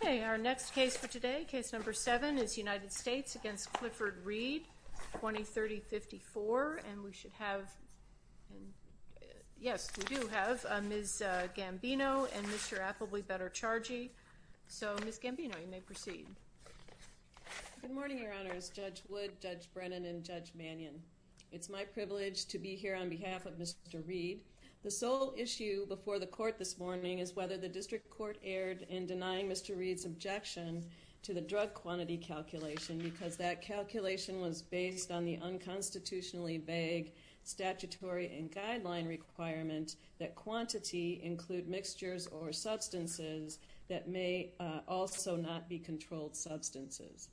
Okay, our next case for today, case number 7, is United States v. Clifford Reed, 2030-54, and we should have, yes, we do have Ms. Gambino and Mr. Applebly Better Chargy. So, Ms. Gambino, you may proceed. Good morning, Your Honors, Judge Wood, Judge Brennan, and Judge Mannion. It's my privilege to be here on behalf of Mr. Reed. The sole issue before the Court this morning is whether the District Court erred in denying Mr. Reed's objection to the drug quantity calculation, because that calculation was based on the unconstitutionally vague statutory and guideline requirement that quantity include mixtures or substances that may also not be controlled substances.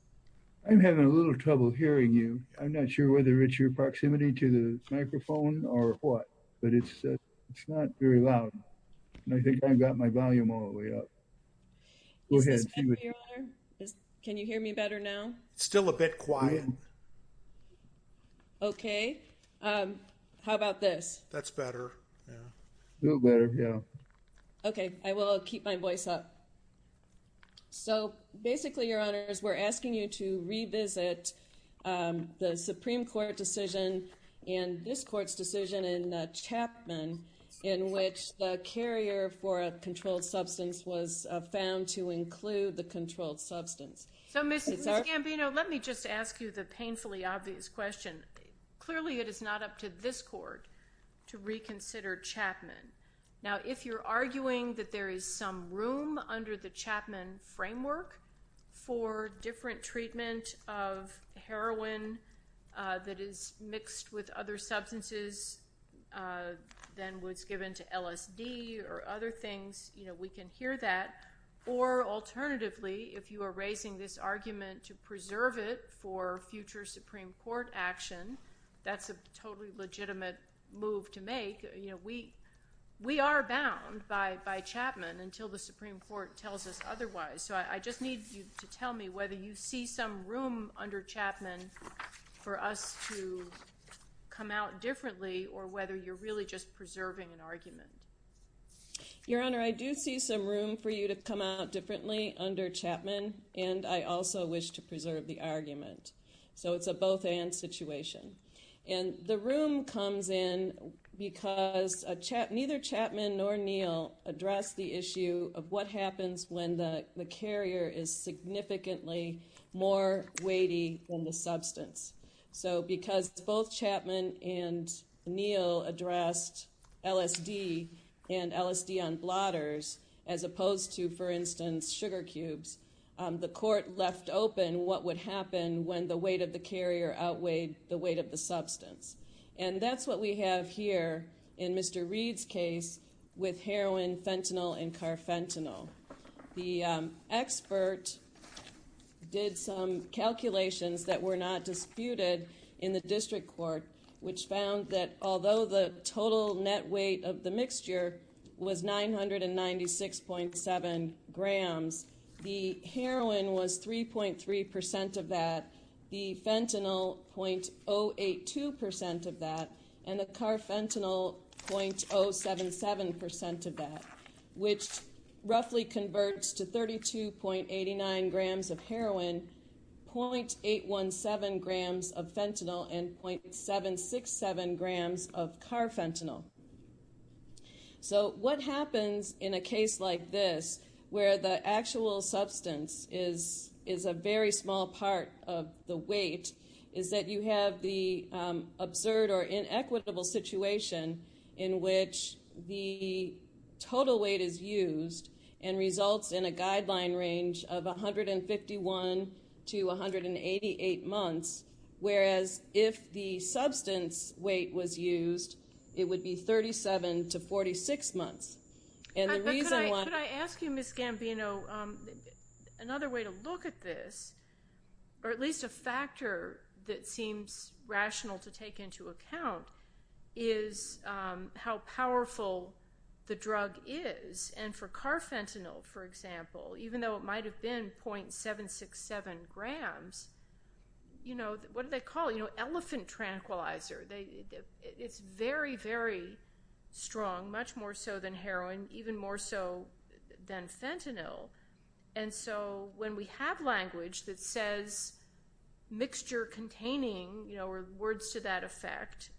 I'm having a little trouble hearing you. I'm not sure whether it's your proximity to the microphone or what, but it's not very loud. I think I've got my volume all the way up. Go ahead. Is this better, Your Honor? Can you hear me better now? It's still a bit quiet. Okay. How about this? That's better, yeah. A little better, yeah. Okay, I will keep my voice up. So, basically, Your Honors, we're asking you to revisit the Supreme Court decision and this Court's decision in Chapman, in which the carrier for a controlled substance was found to include the controlled substance. So, Ms. Gambino, let me just ask you the painfully obvious question. Clearly, it is not up to this Court to reconsider Chapman. Now, if you're arguing that there is some room under the Chapman framework for different treatment of heroin that is mixed with other substances than was given to LSD or other things, you know, we can hear that. Or, alternatively, if you are raising this argument to preserve it for future Supreme Court action, that's a totally legitimate move to make. You know, we are bound by Chapman until the Supreme Court tells us otherwise. So, I just need you to tell me whether you see some room under Chapman for us to come out differently or whether you're really just preserving an argument. Your Honor, I do see some room for you to come out differently under Chapman and I also wish to preserve the argument. So, it's a both-and situation. And the room comes in because neither Chapman nor Neal addressed the issue of what happens when the carrier is significantly more weighty than the substance. So, because both Chapman and Neal addressed LSD and LSD on blotters as opposed to, for instance, sugar cubes, the Court left open what would happen when the weight of the carrier outweighed the weight of the substance. And that's what we have here in Mr. Reed's case with heroin, fentanyl, and carfentanil. The expert did some calculations that were not disputed in the District Court, which found that although the total net weight of the mixture was 996.7 grams, the heroin was 3.3 percent of that, the fentanyl 0.082 percent of that, and the carfentanil 0.077 percent of that, which roughly converts to 32.89 grams of heroin, 0.817 grams of fentanyl, and 0.767 grams of carfentanil. So, what happens in a case like this where the actual substance is a very small part of the weight is that you have the absurd or inequitable situation in which the total weight is used and results in a guideline range of 151 to 188 months, whereas if the substance weight was used, it would be 37 to 46 months. And the reason why... Could I ask you, Ms. Gambino, another way to look at this, or at least a factor that seems for example, even though it might have been 0.767 grams, what do they call it? Elephant tranquilizer. It's very, very strong, much more so than heroin, even more so than fentanyl. And so, when we have language that says, mixture containing, or words to that effect,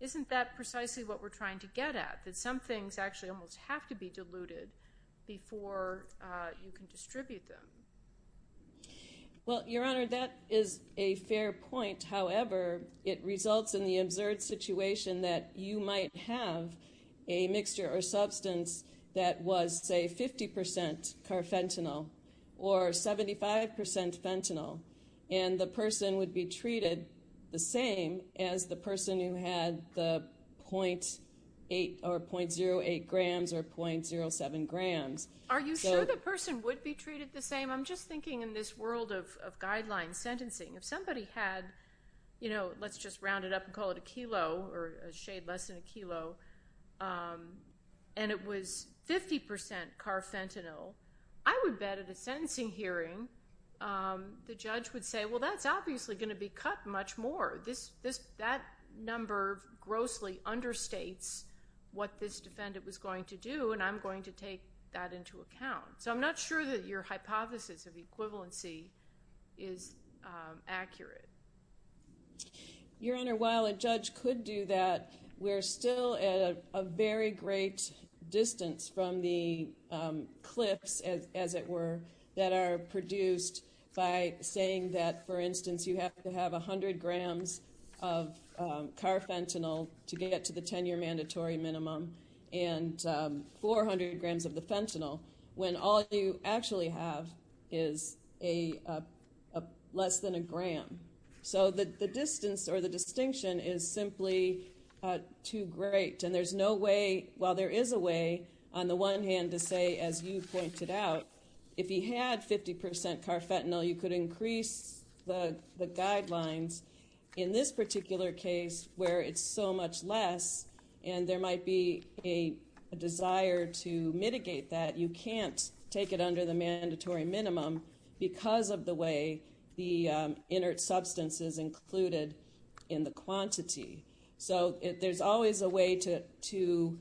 isn't that precisely what we're trying to get at? That some things actually almost have to be before you can distribute them? Well, Your Honor, that is a fair point. However, it results in the absurd situation that you might have a mixture or substance that was, say, 50% carfentanil or 75% fentanyl, and the person would be treated the same as the person who had the 0.08 grams or 0.07 grams. Are you sure the person would be treated the same? I'm just thinking in this world of guideline sentencing, if somebody had, let's just round it up and call it a kilo or a shade less than a kilo, and it was 50% carfentanil, I would bet at a sentencing hearing, the judge would say, well, that's obviously going to be cut much more. That number grossly understates what this defendant was going to do, and I'm going to take that into account. So, I'm not sure that your hypothesis of equivalency is accurate. Your Honor, while a judge could do that, we're still at a very great distance from the that are produced by saying that, for instance, you have to have 100 grams of carfentanil to get it to the 10-year mandatory minimum and 400 grams of the fentanyl when all you actually have is less than a gram. So, the distance or the distinction is simply too great, and there's while there is a way, on the one hand, to say, as you pointed out, if he had 50% carfentanil, you could increase the guidelines. In this particular case, where it's so much less, and there might be a desire to mitigate that, you can't take it under the mandatory minimum because of the way the inert substance is included in the quantity. So, there's always a way to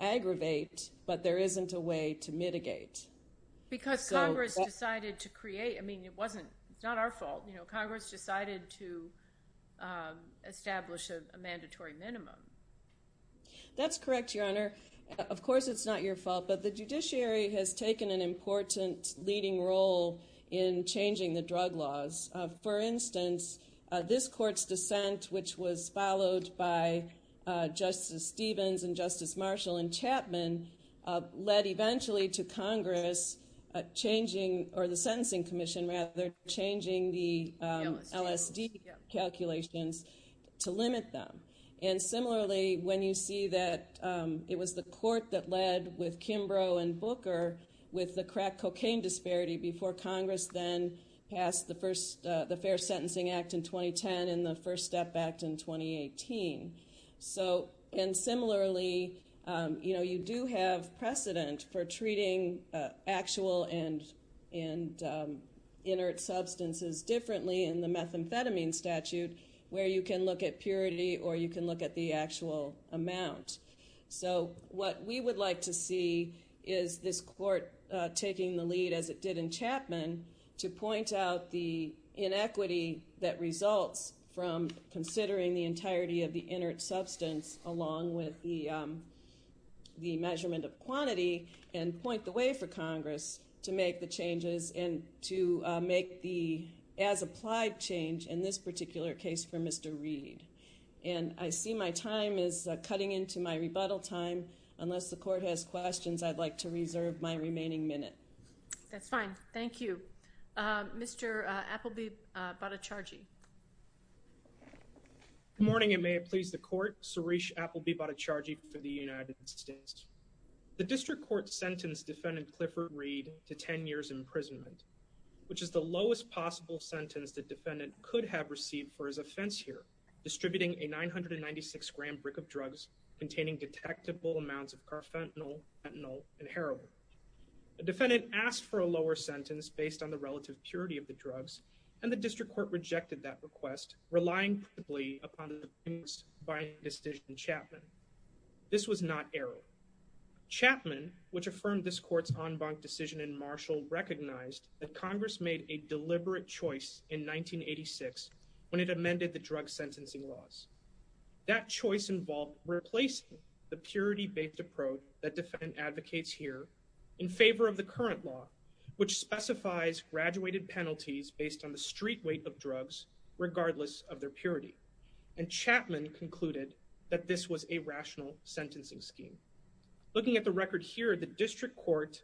aggravate, but there isn't a way to mitigate. Because Congress decided to create, I mean, it wasn't, it's not our fault, you know, Congress decided to establish a mandatory minimum. That's correct, Your Honor. Of course, it's not your fault, but the judiciary has taken an important leading role in changing the drug laws. For instance, this court's dissent, which was in Justice Marshall and Chapman, led eventually to Congress changing, or the Sentencing Commission, rather, changing the LSD calculations to limit them. And similarly, when you see that it was the court that led with Kimbrough and Booker with the crack cocaine disparity before Congress then passed the first, the Fair Sentencing Act in 2010 and the First Step Act in 2018. So, and similarly, you know, you do have precedent for treating actual and inert substances differently in the methamphetamine statute, where you can look at purity or you can look at the actual amount. So, what we would like to see is this court taking the lead as it did in Chapman to point out the inequity that results from considering the entirety of the inert substance along with the measurement of quantity and point the way for Congress to make the changes and to make the as-applied change in this particular case for Mr. Reed. And I see my time is cutting into my rebuttal time. Unless the court has questions, I'd like to reserve my remaining minute. That's fine. Thank you. Mr. Appleby-Battacargi. Good morning, and may it please the court. Suresh Appleby-Battacargi for the United States. The district court sentenced defendant Clifford Reed to 10 years imprisonment, which is the lowest possible sentence the defendant could have received for his offense here, distributing a 996-gram brick of drugs containing detectable amounts of carfentanil, fentanyl, and heroin. The defendant asked for a lower sentence based on the relative purity of the drugs, and the district court rejected that request, relying principally upon the decision in Chapman. This was not error. Chapman, which affirmed this court's en banc decision in Marshall, recognized that Congress made a deliberate choice in 1986 when it amended the drug sentencing laws. That choice involved replacing the purity-based approach that advocates here in favor of the current law, which specifies graduated penalties based on the street weight of drugs, regardless of their purity. And Chapman concluded that this was a rational sentencing scheme. Looking at the record here, the district court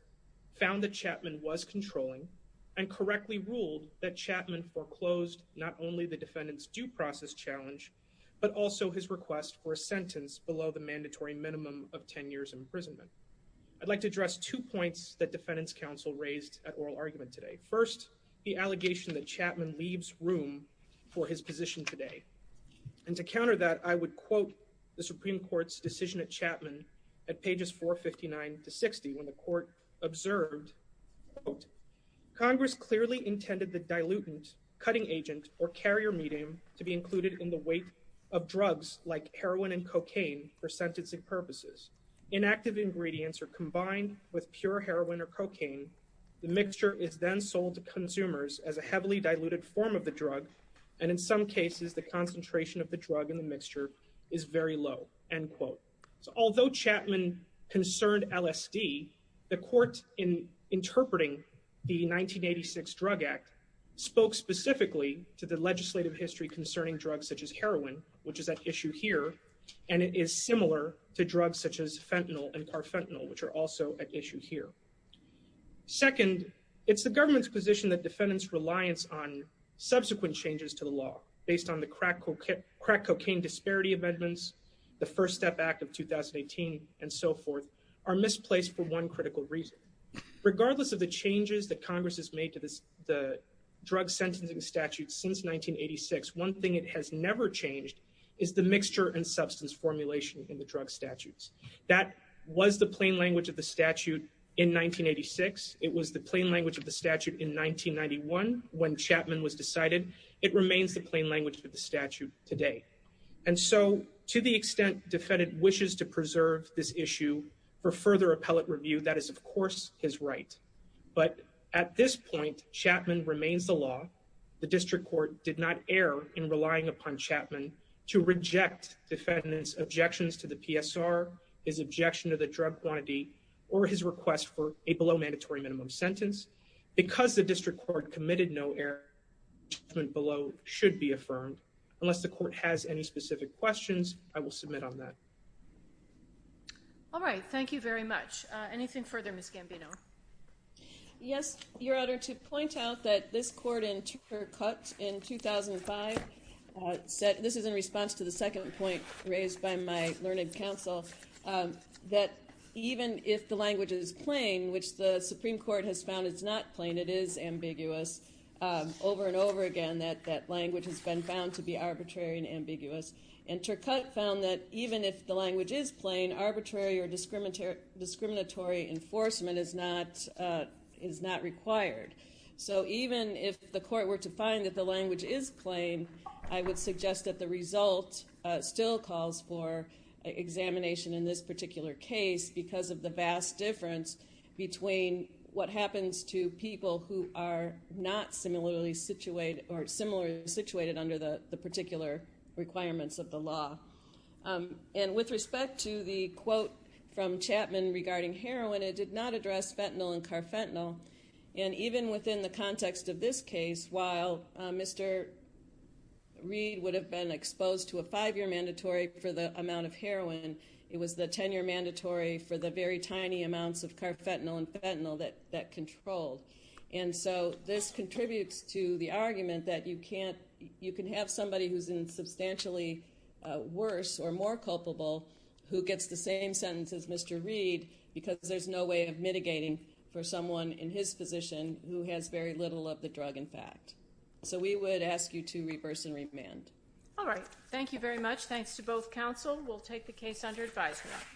found that Chapman was controlling and correctly ruled that Chapman foreclosed not only the defendant's due process challenge, but also his request for a sentence below the mandatory minimum of 10 years' imprisonment. I'd like to address two points that defendants' counsel raised at oral argument today. First, the allegation that Chapman leaves room for his position today. And to counter that, I would quote the Supreme Court's decision at Chapman at pages 459 to 60, when the court observed, quote, Congress clearly intended the dilutant, cutting agent, or carrier medium to be included in the weight of drugs like heroin and cocaine for sentencing purposes. Inactive ingredients are combined with pure heroin or cocaine. The mixture is then sold to consumers as a heavily diluted form of the drug. And in some cases, the concentration of the drug in the mixture is very low, end quote. So although Chapman concerned LSD, the court interpreting the 1986 Drug Act spoke specifically to the legislative history concerning drugs such as heroin, which is at issue here. And it is similar to drugs such as fentanyl and carfentanil, which are also at issue here. Second, it's the government's position that defendants' reliance on subsequent changes to the law, based on the crack cocaine disparity amendments, the First Step Act of 2018, and so forth, are misplaced for one critical reason. Regardless of the changes that Congress has made to the drug sentencing statute since 1986, one thing it has never changed is the mixture and substance formulation in the drug statutes. That was the plain language of the statute in 1986. It was the plain language of the statute in 1991 when Chapman was decided. It remains the plain language of the statute today. And so, to the extent defendant wishes to preserve this issue for further appellate review, that is, of course, his right. But at this point, Chapman remains the law. The district court did not err in relying upon Chapman to reject defendants' objections to the PSR, his objection to the drug quantity, or his request for a below-mandatory minimum sentence. Because the district court committed no error, Chapman below should be affirmed. Unless the court has any specific questions, I will submit on that. All right. Thank you very much. Anything further, Ms. Gambino? Yes, Your Honor. To point out that this court in 2005 said, this is in response to the second point raised by my learning counsel, that even if the language is plain, which the Supreme Court has found is not plain, it is ambiguous, over and over again that language has been found to be arbitrary and ambiguous. And Turcotte found that even if the language is plain, arbitrary or discriminatory enforcement is not required. So even if the court were to find that the language is plain, I would suggest that the result still calls for examination in this particular case because of the vast difference between what happens to people who are not similarly situated under the particular requirements of the law. And with respect to the quote from Chapman regarding heroin, it did not address fentanyl and carfentanil. And even within the context of this case, while Mr. Reed would have been exposed to a five-year mandatory for the amount of heroin, it was the 10-year mandatory for the very tiny amounts of carfentanil and fentanyl that controlled. And so this contributes to the argument that you can't, you can have somebody who's in substantially worse or more culpable who gets the same sentence as Mr. Reed because there's no way of mitigating for someone in his position who has very little of the drug in fact. So we would ask you to reverse and remand. All right. Thank you very much. Thanks to both counsel. We'll take the case under advisement.